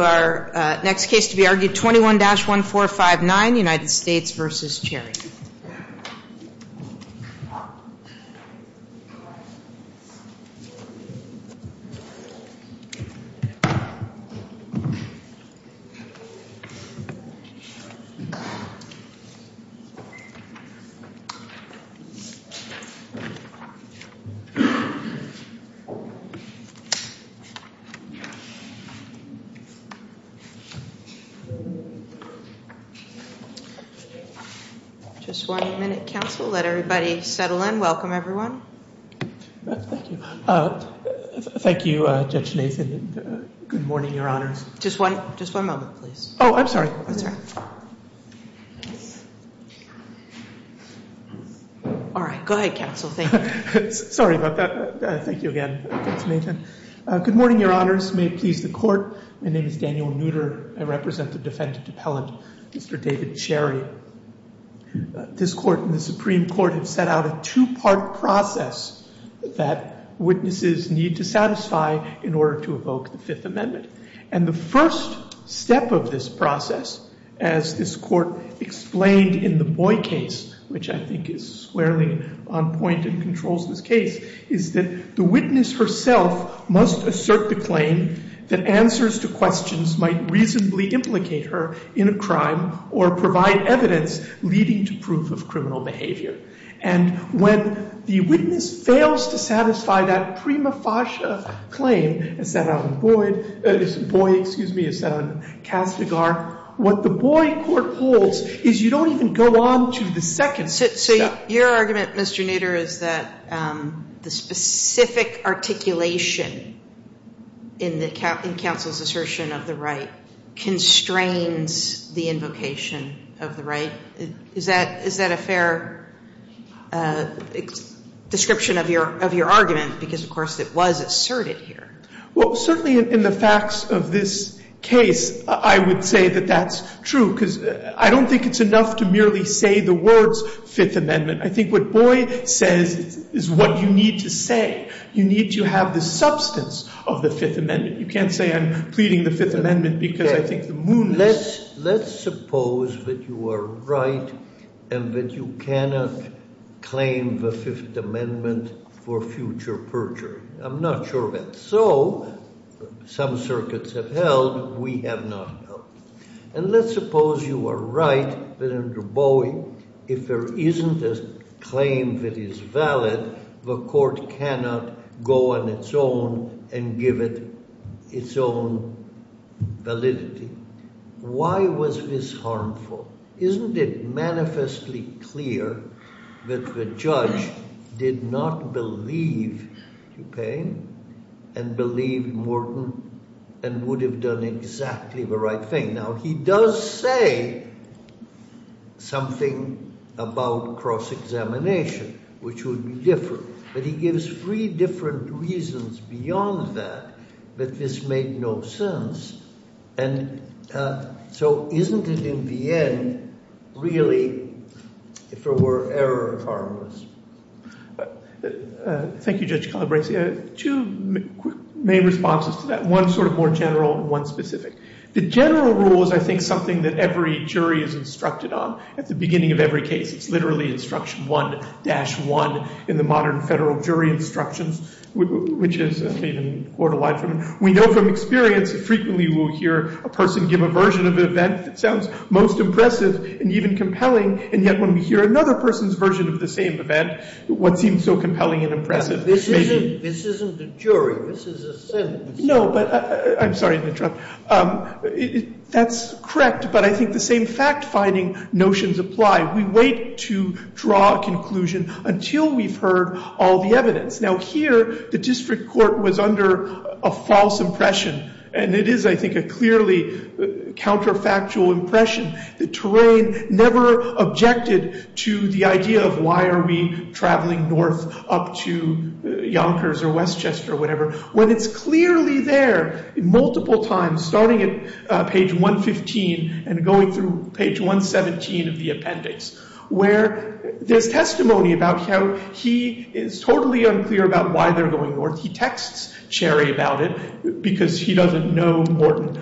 our next case to be argued, 21-1459, United States v. Cherry. And I'm going to ask Judge Nathan to come forward and present the case. Just one minute, counsel. Let everybody settle in. Welcome, everyone. Thank you. Thank you, Judge Nathan. Good morning, Your Honors. Just one moment, please. Oh, I'm sorry. That's all right. All right. Go ahead, counsel. Thank you. Sorry about that. Thank you again, Judge Nathan. Good morning, Your Honors. May it please the Court. My name is Daniel Nutter. I represent the defendant appellant, Mr. David Cherry. This Court and the Supreme Court have set out a two-part process that witnesses need to satisfy in order to evoke the Fifth Amendment. And the first step of this process, as this Court explained in the Boy case, which I think is squarely on point and controls this case, is that the witness herself must assert the claim that answers to questions might reasonably implicate her in a crime or provide evidence leading to proof of criminal behavior. And when the witness fails to satisfy that prima facie claim as set out in Boy, excuse me, as set out in Castigar, what the Boy court holds is you don't even go on to the second step. So your argument, Mr. Nutter, is that the specific articulation in the counsel's assertion of the right constrains the invocation of the right? Is that a fair description of your argument? Because, of course, it was asserted here. Well, certainly in the facts of this case, I would say that that's true, because I don't think it's enough to merely say the words Fifth Amendment. I think what Boy says is what you need to say. You need to have the substance of the Fifth Amendment. You can't say I'm pleading the Fifth Amendment because I think the moon is up. Let's suppose that you are right and that you cannot claim the Fifth Amendment for future perjury. I'm not sure of that. So some circuits have held. We have not held. And let's suppose you are right that under Boy, if there isn't a claim that is valid, the court cannot go on its own and give it its own validity. Why was this harmful? Isn't it manifestly clear that the judge did not believe DuPain and believed Morton and would have done exactly the right thing? Now, he does say something about cross-examination, which would be different, but he gives three different reasons beyond that that this made no sense. And so isn't it in the end really, if there were error, harmless? Thank you, Judge Calabresi. Two main responses to that, one sort of more general and one specific. The general rule is, I think, something that every jury is instructed on at the beginning of every case. It's literally instruction 1-1 in the modern federal jury instructions, which is made in borderline. We know from experience that frequently we'll hear a person give a version of an event that sounds most impressive and even compelling. And yet when we hear another person's version of the same event, what seems so compelling and impressive may be— This isn't a jury. This is a sentence. No, but I'm sorry to interrupt. That's correct, but I think the same fact-finding notions apply. We wait to draw a conclusion until we've heard all the evidence. Now, here the district court was under a false impression. And it is, I think, a clearly counterfactual impression. The terrain never objected to the idea of why are we traveling north up to Yonkers or Westchester or whatever, when it's clearly there multiple times, starting at page 115 and going through page 117 of the appendix, where there's testimony about how he is totally unclear about why they're going north. He texts Cherry about it because he doesn't know Morton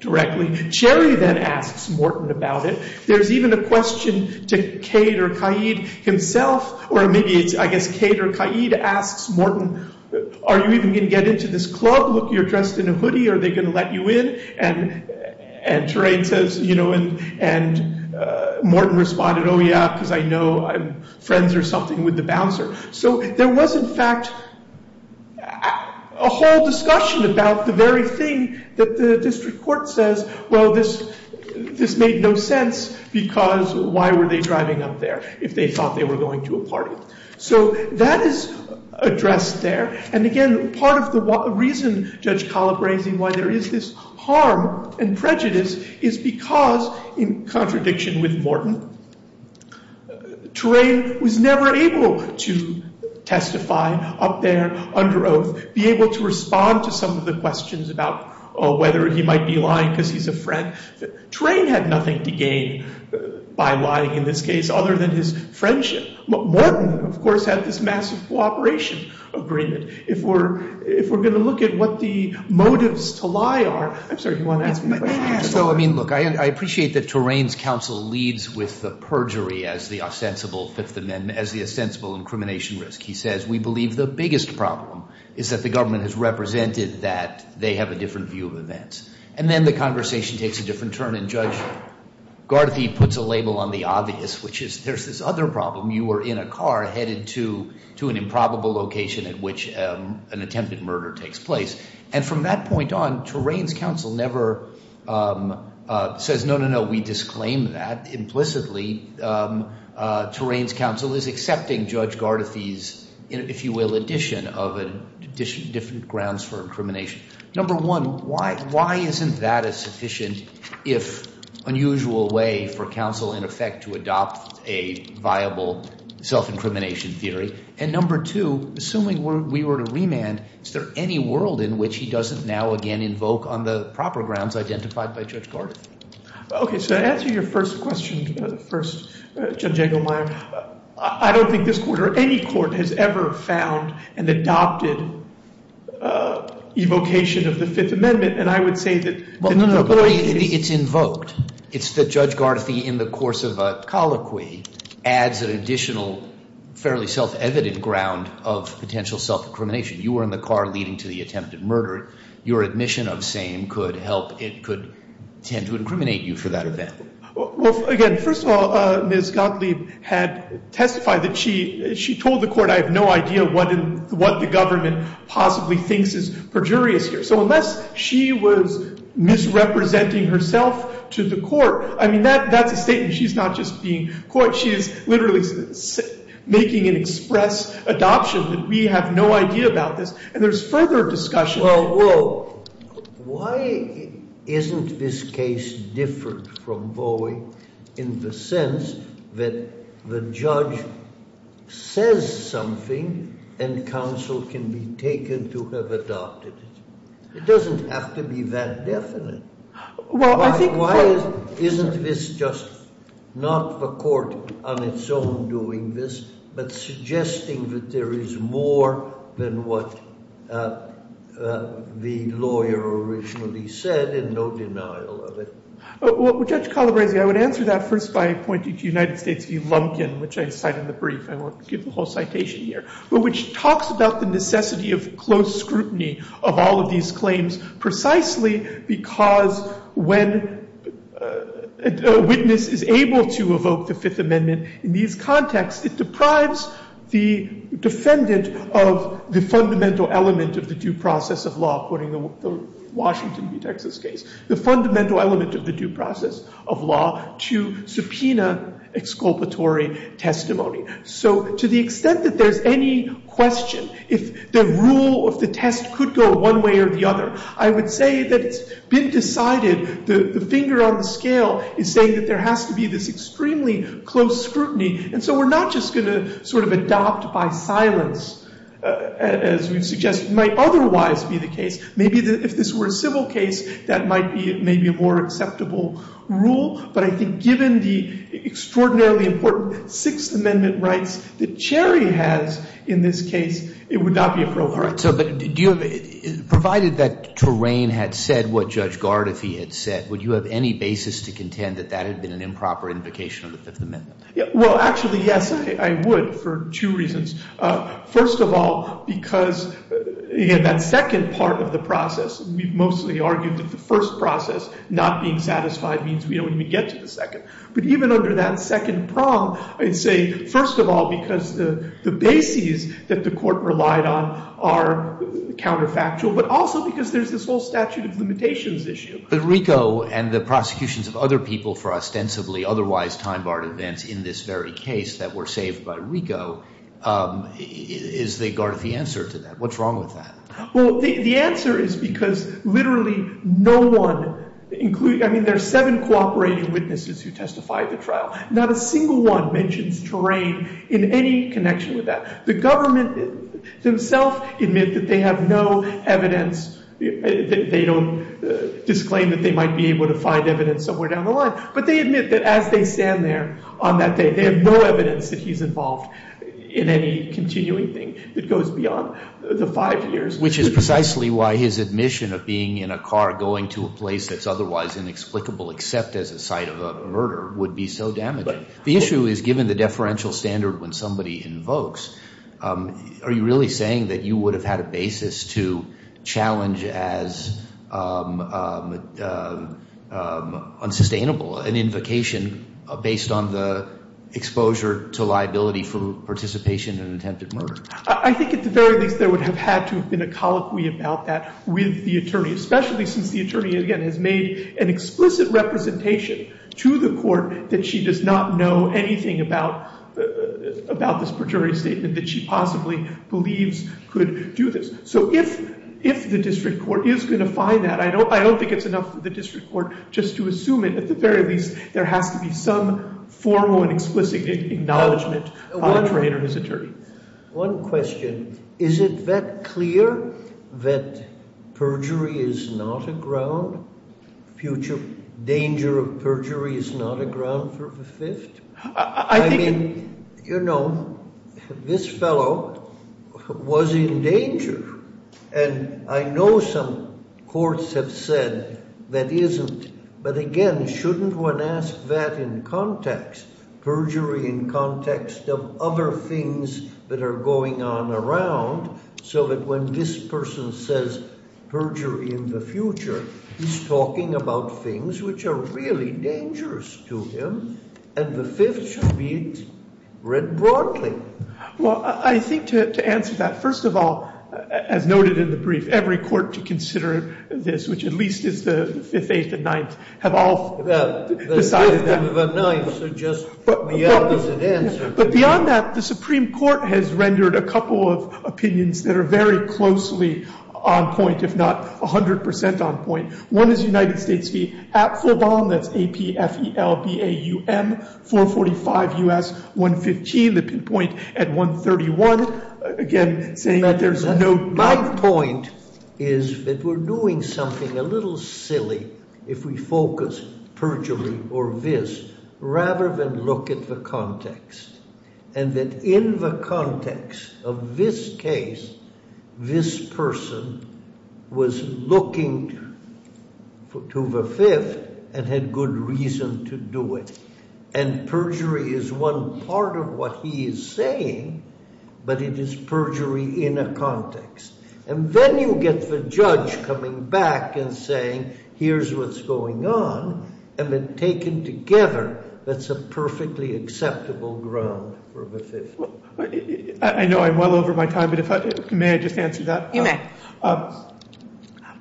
directly. Cherry then asks Morton about it. There's even a question to Cade or Caid himself, or maybe it's, I guess, Cade or Caid asks Morton, are you even going to get into this club? Look, you're dressed in a hoodie. Are they going to let you in? And Terrain says, you know, and Morton responded, oh, yeah, because I know I'm friends or something with the bouncer. So there was, in fact, a whole discussion about the very thing that the district court says, well, this made no sense because why were they driving up there if they thought they were going to a party? So that is addressed there. And again, part of the reason Judge Collip raised why there is this harm and prejudice is because, in contradiction with Morton, Terrain was never able to testify up there under oath, be able to respond to some of the questions about whether he might be lying because he's a friend. Terrain had nothing to gain by lying in this case other than his friendship. Morton, of course, had this massive cooperation agreement. If we're going to look at what the motives to lie are, I'm sorry, do you want to ask my question? So, I mean, look, I appreciate that Terrain's counsel leads with the perjury as the ostensible Fifth Amendment, as the ostensible incrimination risk. He says we believe the biggest problem is that the government has represented that they have a different view of events. And then the conversation takes a different turn, and Judge Garthie puts a label on the obvious, which is there's this other problem. You were in a car headed to an improbable location at which an attempted murder takes place. And from that point on, Terrain's counsel never says, no, no, no, we disclaim that. Implicitly, Terrain's counsel is accepting Judge Garthie's, if you will, addition of different grounds for incrimination. Number one, why isn't that a sufficient, if unusual, way for counsel, in effect, to adopt a viable self-incrimination theory? And number two, assuming we were to remand, is there any world in which he doesn't now again invoke on the proper grounds identified by Judge Garthie? OK, so to answer your first question, first, Judge Engelmeyer, I don't think this court or any court has ever found and adopted evocation of the Fifth Amendment. And I would say that— Well, no, no, but it's invoked. It's that Judge Garthie, in the course of a colloquy, adds an additional fairly self-evident ground of potential self-incrimination. You were in the car leading to the attempted murder. Your admission of same could help. It could tend to incriminate you for that event. Well, again, first of all, Ms. Gottlieb had testified that she told the court, I have no idea what the government possibly thinks is perjurious here. So unless she was misrepresenting herself to the court, I mean, that's a statement. She's not just being court. She is literally making an express adoption that we have no idea about this. And there's further discussion. Well, why isn't this case different from Bowie in the sense that the judge says something and counsel can be taken to have adopted it? It doesn't have to be that definite. Why isn't this just not the court on its own doing this but suggesting that there is more than what the lawyer originally said and no denial of it? Well, Judge Calabresi, I would answer that first by pointing to United States v. Lumpkin, which I cite in the brief. I won't give the whole citation here. But which talks about the necessity of close scrutiny of all of these claims precisely because when a witness is able to evoke the Fifth Amendment in these contexts, it deprives the defendant of the fundamental element of the due process of law, according to the Washington v. Texas case, the fundamental element of the due process of law to subpoena exculpatory testimony. So to the extent that there's any question if the rule of the test could go one way or the other, I would say that it's been decided. The finger on the scale is saying that there has to be this extremely close scrutiny. And so we're not just going to sort of adopt by silence, as we suggest might otherwise be the case. Maybe if this were a civil case, that might be maybe a more acceptable rule. But I think given the extraordinarily important Sixth Amendment rights that Cherry has in this case, it would not be appropriate. All right. So but do you have – provided that Torain had said what Judge Gardefee had said, would you have any basis to contend that that had been an improper invocation of the Fifth Amendment? Well, actually, yes, I would for two reasons. First of all, because in that second part of the process, we've mostly argued that the first process, not being satisfied means we don't even get to the second. But even under that second prong, I'd say, first of all, because the bases that the court relied on are counterfactual, but also because there's this whole statute of limitations issue. But RICO and the prosecutions of other people for ostensibly otherwise time-barred events in this very case that were saved by RICO, is the Gardefee answer to that? What's wrong with that? Well, the answer is because literally no one – I mean, there are seven cooperating witnesses who testified at the trial. Not a single one mentions Torain in any connection with that. The government themselves admit that they have no evidence. They don't disclaim that they might be able to find evidence somewhere down the line. But they admit that as they stand there on that day, they have no evidence that he's involved in any continuing thing that goes beyond the five years. Which is precisely why his admission of being in a car going to a place that's otherwise inexplicable, except as a site of a murder, would be so damaging. The issue is given the deferential standard when somebody invokes, are you really saying that you would have had a basis to challenge as unsustainable an invocation based on the exposure to liability for participation in an attempted murder? I think at the very least there would have had to have been a colloquy about that with the attorney, especially since the attorney, again, has made an explicit representation to the court that she does not know anything about this perjury statement that she possibly believes could do this. So if the district court is going to find that, I don't think it's enough for the district court just to assume it. At the very least, there has to be some formal and explicit acknowledgment of Torain or his attorney. One question. Is it that clear that perjury is not a ground? Future danger of perjury is not a ground for the fifth? I mean, you know, this fellow was in danger. And I know some courts have said that isn't. But again, shouldn't one ask that in context, perjury in context of other things that are going on around? So that when this person says perjury in the future, he's talking about things which are really dangerous to him. And the fifth should be read broadly. Well, I think to answer that, first of all, as noted in the brief, every court to consider this, which at least is the fifth, eighth, and ninth, have all decided that. But beyond that, the Supreme Court has rendered a couple of opinions that are very closely on point, if not 100 percent on point. One is United States v. Apfelbaum, that's A-P-F-E-L-B-A-U-M, 445 U.S. 115, the pinpoint at 131. My point is that we're doing something a little silly if we focus perjury or this rather than look at the context. And that in the context of this case, this person was looking to the fifth and had good reason to do it. And perjury is one part of what he is saying, but it is perjury in a context. And then you get the judge coming back and saying, here's what's going on. And then taken together, that's a perfectly acceptable ground for the fifth. I know I'm well over my time, but may I just answer that? You may.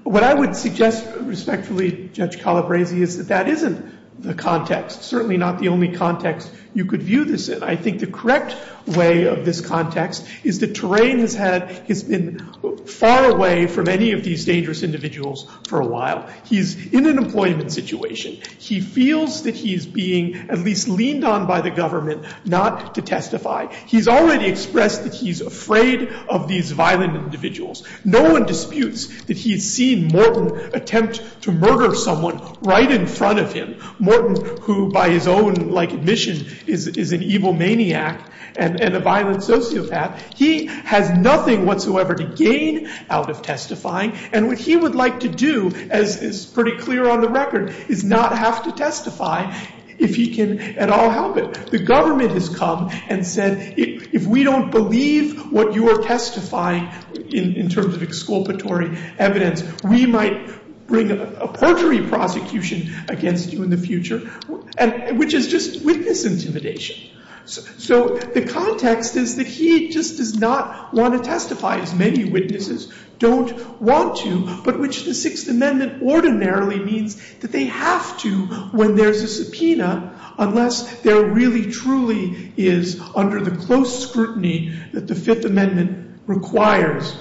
What I would suggest respectfully, Judge Calabresi, is that that isn't the context, certainly not the only context you could view this in. I think the correct way of this context is that Terrain has been far away from any of these dangerous individuals for a while. He's in an employment situation. He feels that he's being at least leaned on by the government not to testify. He's already expressed that he's afraid of these violent individuals. No one disputes that he has seen Morton attempt to murder someone right in front of him. Morton, who by his own, like, admission is an evil maniac and a violent sociopath, he has nothing whatsoever to gain out of testifying. And what he would like to do, as is pretty clear on the record, is not have to testify if he can at all help it. The government has come and said, if we don't believe what you are testifying in terms of exculpatory evidence, we might bring a paltry prosecution against you in the future, which is just witness intimidation. So the context is that he just does not want to testify, as many witnesses don't want to, but which the Sixth Amendment ordinarily means that they have to when there's a subpoena, unless there really truly is, under the close scrutiny that the Fifth Amendment requires,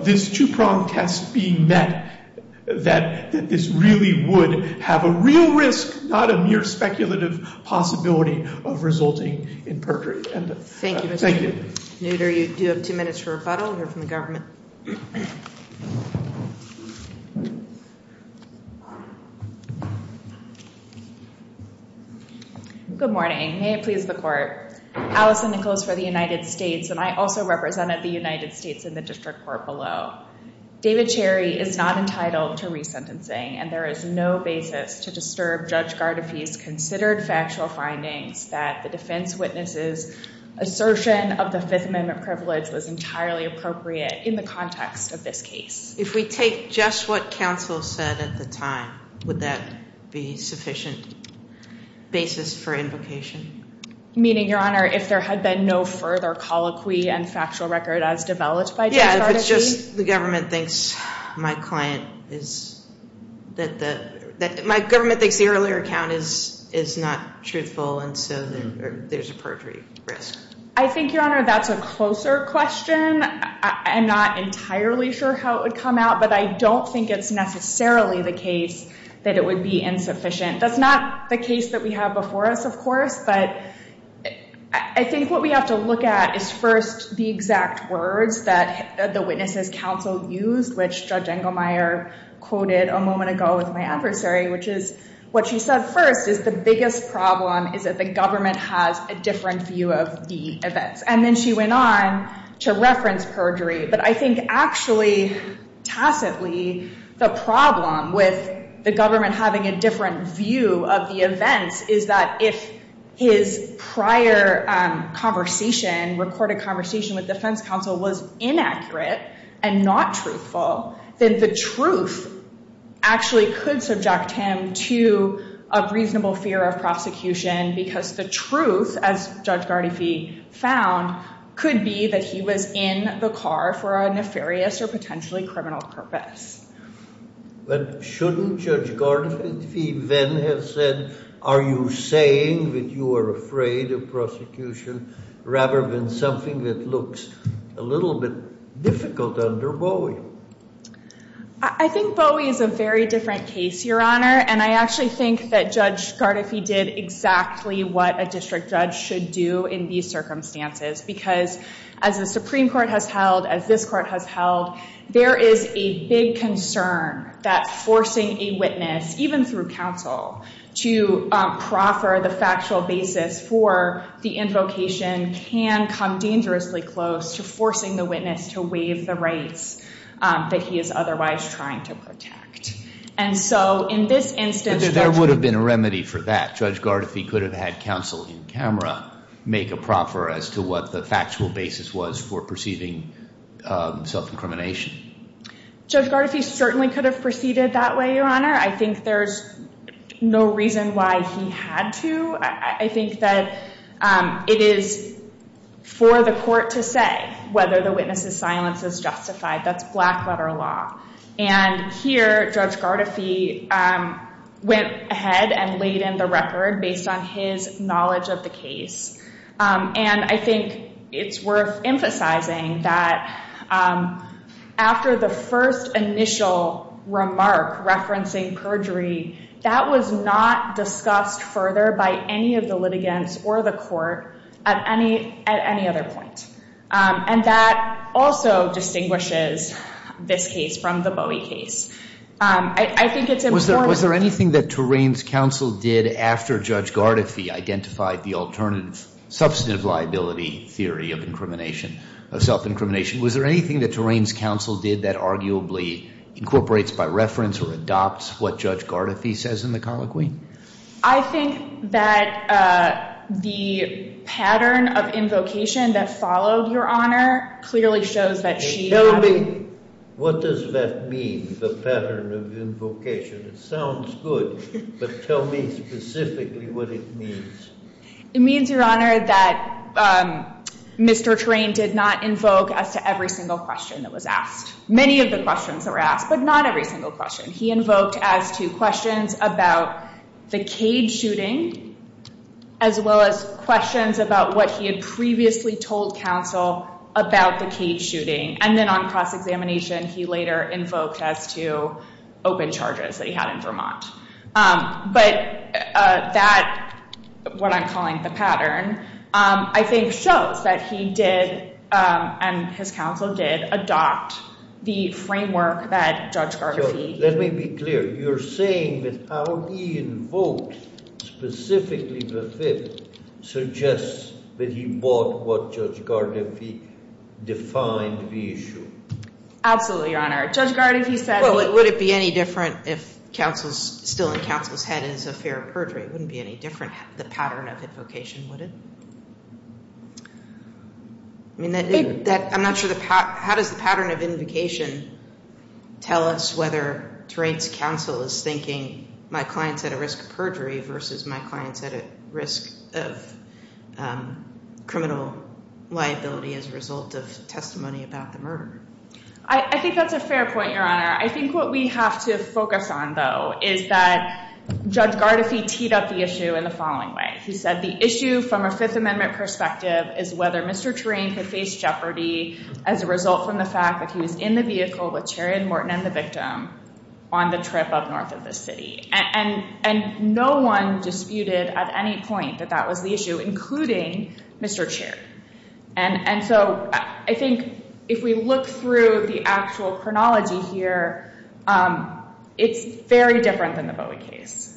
this two-prong test being met, that this really would have a real risk, not a mere speculative possibility of resulting in perjury. Thank you. Thank you. Nooter, you do have two minutes for rebuttal. You're from the government. Good morning. May it please the Court. Allison Nichols for the United States, and I also represented the United States in the district court below. David Cherry is not entitled to resentencing, and there is no basis to disturb Judge Gardefee's considered factual findings that the defense witness's assertion of the Fifth Amendment privilege was entirely appropriate in the context of this case. If we take just what counsel said at the time, would that be sufficient basis for invocation? Meaning, Your Honor, if there had been no further colloquy and factual record as developed by Judge Gardefee? My government thinks the earlier account is not truthful, and so there's a perjury risk. I think, Your Honor, that's a closer question. I'm not entirely sure how it would come out, but I don't think it's necessarily the case that it would be insufficient. That's not the case that we have before us, of course, but I think what we have to look at is first the exact words that the witness's counsel used, which Judge Engelmeyer quoted a moment ago with my adversary, which is what she said first is the biggest problem is that the government has a different view of the events. And then she went on to reference perjury, but I think actually, tacitly, the problem with the government having a different view of the events is that if his prior conversation, recorded conversation with defense counsel, was inaccurate and not truthful, then the truth actually could subject him to a reasonable fear of prosecution because the truth, as Judge Gardefee found, could be that he was in the car for a nefarious or potentially criminal purpose. But shouldn't Judge Gardefee then have said, are you saying that you are afraid of prosecution rather than something that looks a little bit difficult under Bowie? I think Bowie is a very different case, Your Honor, and I actually think that Judge Gardefee did exactly what a district judge should do in these circumstances because as the Supreme Court has held, as this court has held, there is a big concern that forcing a witness, even through counsel, to proffer the factual basis for the invocation can come dangerously close to forcing the witness to waive the rights that he is otherwise trying to protect. But there would have been a remedy for that. Judge Gardefee could have had counsel in camera make a proffer as to what the factual basis was for perceiving self-incrimination. Judge Gardefee certainly could have proceeded that way, Your Honor. I think there's no reason why he had to. I think that it is for the court to say whether the witness's silence is justified. That's black-letter law. And here, Judge Gardefee went ahead and laid in the record based on his knowledge of the case. And I think it's worth emphasizing that after the first initial remark referencing perjury, that was not discussed further by any of the litigants or the court at any other point. And that also distinguishes this case from the Bowie case. I think it's important. Was there anything that Terrain's counsel did after Judge Gardefee identified the alternative substantive liability theory of self-incrimination? Was there anything that Terrain's counsel did that arguably incorporates by reference or adopts what Judge Gardefee says in the colloquy? I think that the pattern of invocation that followed, Your Honor, clearly shows that she- Tell me, what does that mean, the pattern of invocation? It sounds good, but tell me specifically what it means. It means, Your Honor, that Mr. Terrain did not invoke as to every single question that was asked. Many of the questions that were asked, but not every single question. He invoked as to questions about the Cade shooting as well as questions about what he had previously told counsel about the Cade shooting. And then on cross-examination, he later invoked as to open charges that he had in Vermont. But that, what I'm calling the pattern, I think shows that he did and his counsel did adopt the framework that Judge Gardefee- Let me be clear. You're saying that how he invoked specifically the fifth suggests that he bought what Judge Gardefee defined the issue. Absolutely, Your Honor. Judge Gardefee said- Well, would it be any different if still in counsel's head is a fair perjury? It wouldn't be any different, the pattern of invocation, would it? I'm not sure, how does the pattern of invocation tell us whether Terrain's counsel is thinking, my client's at a risk of perjury versus my client's at a risk of criminal liability as a result of testimony about the murder? I think that's a fair point, Your Honor. I think what we have to focus on, though, is that Judge Gardefee teed up the issue in the following way. He said the issue from a Fifth Amendment perspective is whether Mr. Terrain could face jeopardy as a result from the fact that he was in the vehicle with Terrain Morton and the victim on the trip up north of the city. And no one disputed at any point that that was the issue, including Mr. Chair. And so I think if we look through the actual chronology here, it's very different than the Bowie case.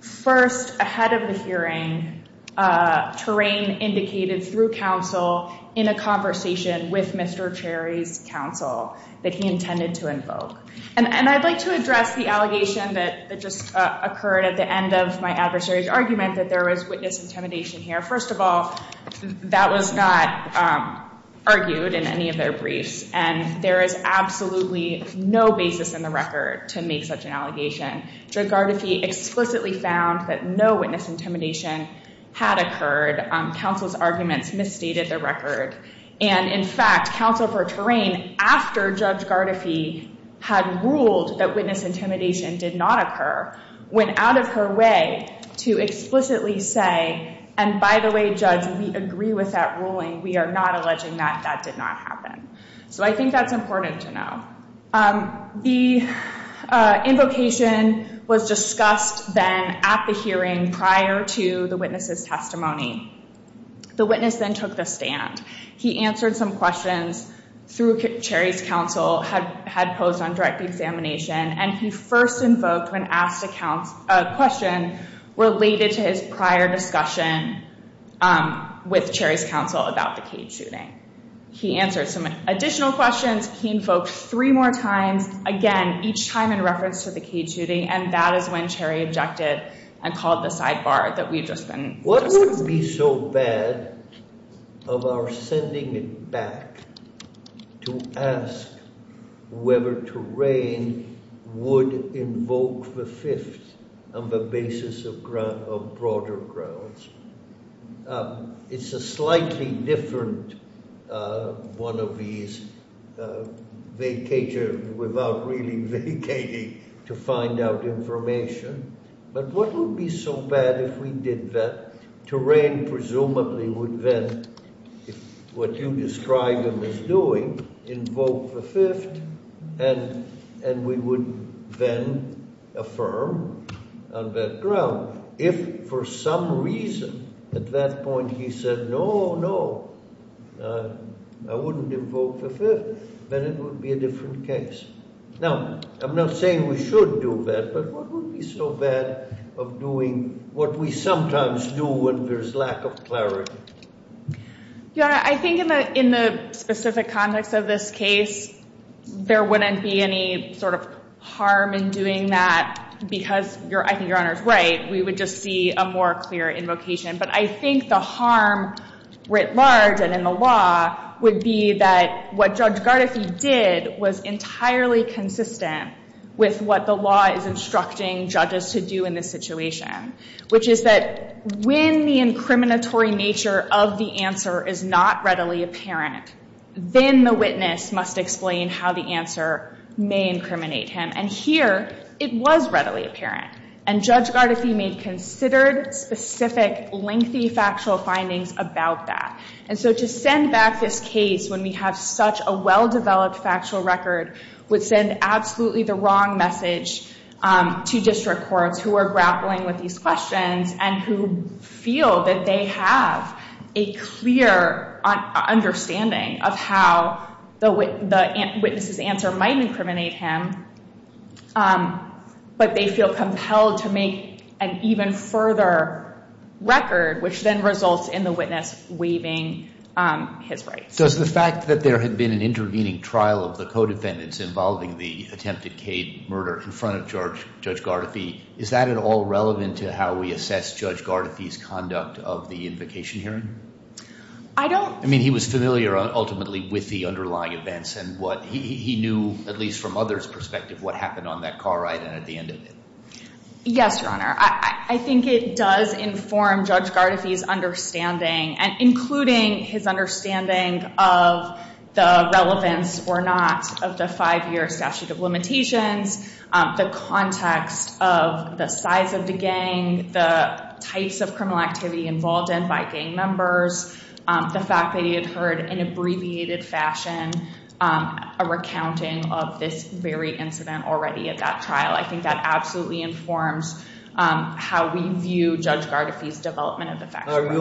First, ahead of the hearing, Terrain indicated through counsel in a conversation with Mr. Cherry's counsel that he intended to invoke. And I'd like to address the allegation that just occurred at the end of my adversary's argument that there was witness intimidation here. First of all, that was not argued in any of their briefs, and there is absolutely no basis in the record to make such an allegation. Judge Gardefee explicitly found that no witness intimidation had occurred. Counsel's arguments misstated the record. And in fact, counsel for Terrain, after Judge Gardefee had ruled that witness intimidation did not occur, went out of her way to explicitly say, and by the way, judge, we agree with that ruling. We are not alleging that that did not happen. So I think that's important to know. The invocation was discussed then at the hearing prior to the witness's testimony. The witness then took the stand. He answered some questions through Cherry's counsel, had posed on direct examination, and he first invoked when asked a question related to his prior discussion with Cherry's counsel about the cage shooting. He answered some additional questions. He invoked three more times, again, each time in reference to the cage shooting, and that is when Cherry objected and called the sidebar that we had just been discussing. What would be so bad of our sending it back to ask whether Terrain would invoke the fifth on the basis of broader grounds? It's a slightly different one of these vacatures without really vacating to find out information. But what would be so bad if we did that? Terrain presumably would then, if what you describe him as doing, invoke the fifth, and we would then affirm on that ground. If for some reason at that point he said, no, no, I wouldn't invoke the fifth, then it would be a different case. Now, I'm not saying we should do that, but what would be so bad of doing what we sometimes do when there's lack of clarity? Yeah, I think in the specific context of this case, there wouldn't be any sort of harm in doing that, because I think Your Honor's right. We would just see a more clear invocation. But I think the harm writ large and in the law would be that what Judge Gardefee did was entirely consistent with what the law is instructing judges to do in this situation, which is that when the incriminatory nature of the answer is not readily apparent, then the witness must explain how the answer may incriminate him. And here, it was readily apparent. And Judge Gardefee made considered, specific, lengthy factual findings about that. And so to send back this case when we have such a well-developed factual record would send absolutely the wrong message to district courts who are grappling with these questions and who feel that they have a clear understanding of how the witness's answer might incriminate him, but they feel compelled to make an even further record, which then results in the witness waiving his rights. Does the fact that there had been an intervening trial of the co-defendants involving the attempted CAID murder in front of Judge Gardefee, is that at all relevant to how we assess Judge Gardefee's conduct of the invocation hearing? I don't... I mean, he was familiar, ultimately, with the underlying events and what he knew, at least from others' perspective, what happened on that car ride and at the end of it. Yes, Your Honor. I think it does inform Judge Gardefee's understanding, including his understanding of the relevance or not of the five-year statute of limitations, the context of the size of the gang, the types of criminal activity involved in by gang members, the fact that he had heard, in abbreviated fashion, a recounting of this very incident already at that trial. I think that absolutely informs how we view Judge Gardefee's development of the facts. Are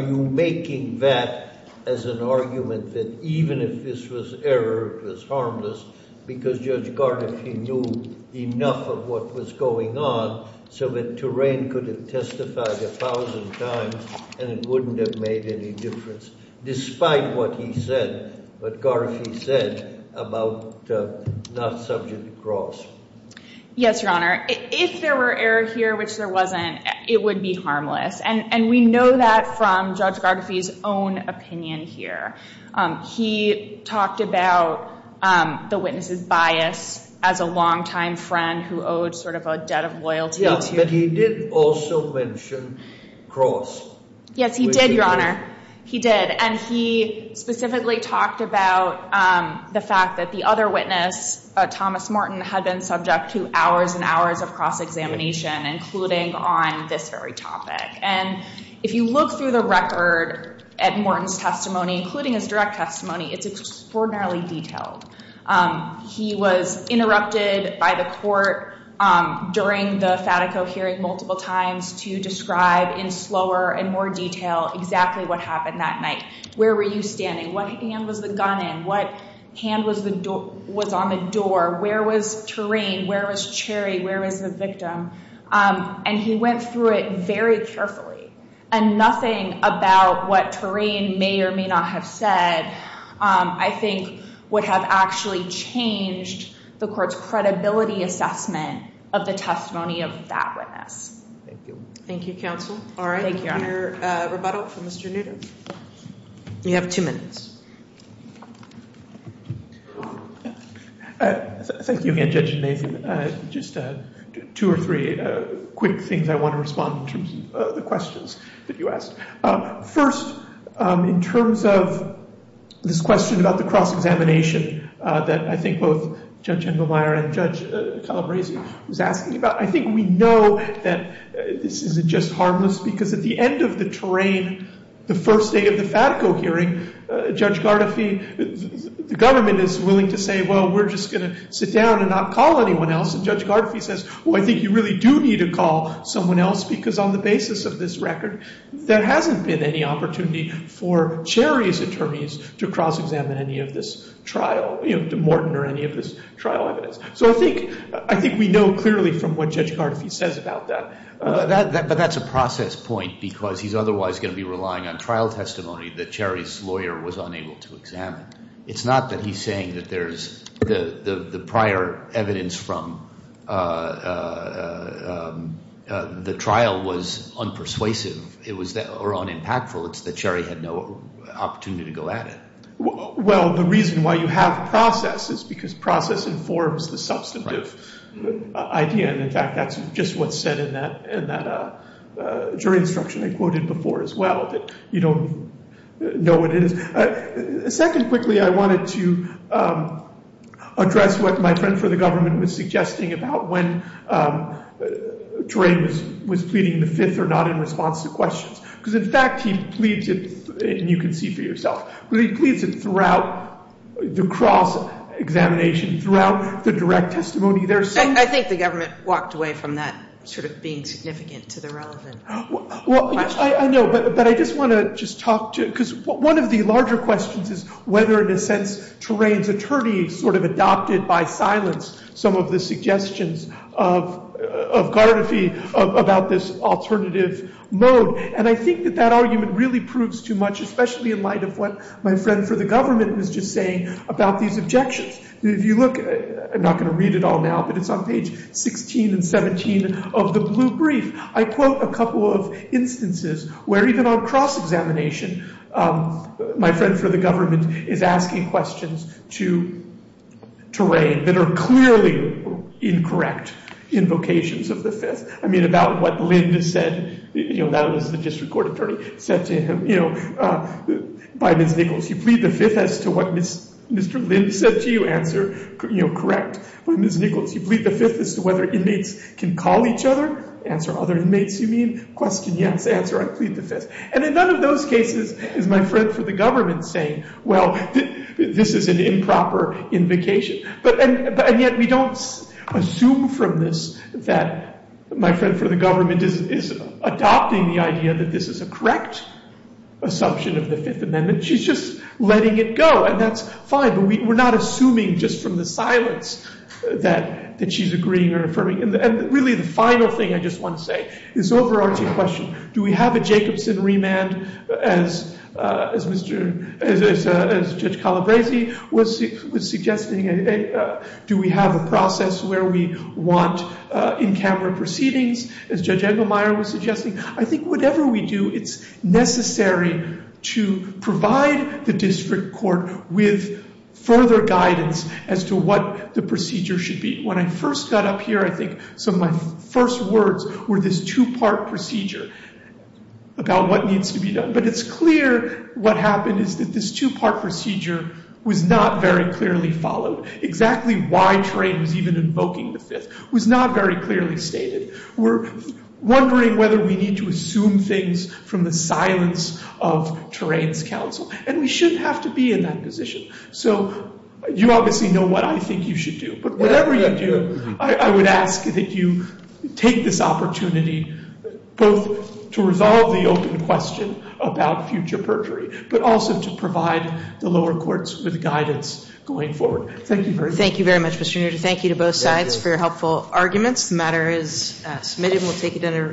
you making that as an argument that even if this was error, it was harmless, because Judge Gardefee knew enough of what was going on, so that Turain could have testified a thousand times and it wouldn't have made any difference, despite what he said, what Gardefee said, about not subject to cross? Yes, Your Honor. If there were error here, which there wasn't, it would be harmless. And we know that from Judge Gardefee's own opinion here. He talked about the witness's bias as a longtime friend who owed sort of a debt of loyalty to him. But he did also mention cross. Yes, he did, Your Honor. He did. And he specifically talked about the fact that the other witness, Thomas Morton, had been subject to hours and hours of cross-examination, including on this very topic. And if you look through the record at Morton's testimony, including his direct testimony, it's extraordinarily detailed. He was interrupted by the court during the Fatico hearing multiple times to describe in slower and more detail exactly what happened that night. Where were you standing? What hand was the gun in? What hand was on the door? Where was Turain? Where was Cherry? Where was the victim? And he went through it very carefully. And nothing about what Turain may or may not have said, I think, would have actually changed the court's credibility assessment of the testimony of that witness. Thank you. Thank you, counsel. All right. Thank you, Your Honor. Rebuttal from Mr. Newton. You have two minutes. Thank you again, Judge Nathan. Just two or three quick things I want to respond to the questions that you asked. First, in terms of this question about the cross-examination that I think both Judge Engelmeyer and Judge Calabresi was asking about, I think we know that this isn't just harmless because at the end of the Turain, the first day of the Fatico hearing, Judge Gardefi, the government is willing to say, well, we're just going to sit down and not call anyone else. And Judge Gardefi says, well, I think you really do need to call someone else because on the basis of this record, there hasn't been any opportunity for Cherry's attorneys to cross-examine any of this trial, you know, to morten or any of this trial evidence. So I think we know clearly from what Judge Gardefi says about that. But that's a process point because he's otherwise going to be relying on trial testimony that Cherry's lawyer was unable to examine. It's not that he's saying that there's – the prior evidence from the trial was unpersuasive or unimpactful. It's that Cherry had no opportunity to go at it. Well, the reason why you have process is because process informs the substantive idea. And, in fact, that's just what's said in that Turain instruction I quoted before as well, that you don't know what it is. Second, quickly, I wanted to address what my friend for the government was suggesting about when Turain was pleading the fifth or not in response to questions. Because, in fact, he pleads it – and you can see for yourself – he pleads it throughout the cross-examination, throughout the direct testimony. I think the government walked away from that sort of being significant to the relevant question. Well, I know, but I just want to just talk to – because one of the larger questions is whether, in a sense, Turain's attorney sort of adopted by silence some of the suggestions of Gardefi about this alternative mode. And I think that that argument really proves too much, especially in light of what my friend for the government was just saying about these objections. If you look – I'm not going to read it all now, but it's on page 16 and 17 of the blue brief. I quote a couple of instances where, even on cross-examination, my friend for the government is asking questions to Turain that are clearly incorrect invocations of the fifth. I mean, about what Lind said – that was the district court attorney – said to him, you know, by Ms. Nichols, you plead the fifth as to what Mr. Lind said to you. Answer, you know, correct by Ms. Nichols. You plead the fifth as to whether inmates can call each other. Answer, other inmates, you mean. Question, yes. Answer, I plead the fifth. And in none of those cases is my friend for the government saying, well, this is an improper invocation. And yet we don't assume from this that my friend for the government is adopting the idea that this is a correct assumption of the Fifth Amendment. She's just letting it go, and that's fine. But we're not assuming just from the silence that she's agreeing or affirming. And really the final thing I just want to say is this overarching question. Do we have a Jacobson remand, as Judge Calabresi was suggesting? Do we have a process where we want in-camera proceedings, as Judge Engelmeyer was suggesting? I think whatever we do, it's necessary to provide the district court with further guidance as to what the procedure should be. When I first got up here, I think some of my first words were this two-part procedure about what needs to be done. But it's clear what happened is that this two-part procedure was not very clearly followed. Exactly why Trey was even invoking the fifth was not very clearly stated. We're wondering whether we need to assume things from the silence of Terrain's counsel. And we shouldn't have to be in that position. So you obviously know what I think you should do. But whatever you do, I would ask that you take this opportunity both to resolve the open question about future perjury, but also to provide the lower courts with guidance going forward. Thank you very much. Thank you very much, Mr. Nooter. Thank you to both sides for your helpful arguments. The matter is submitted and we'll take it under advisement.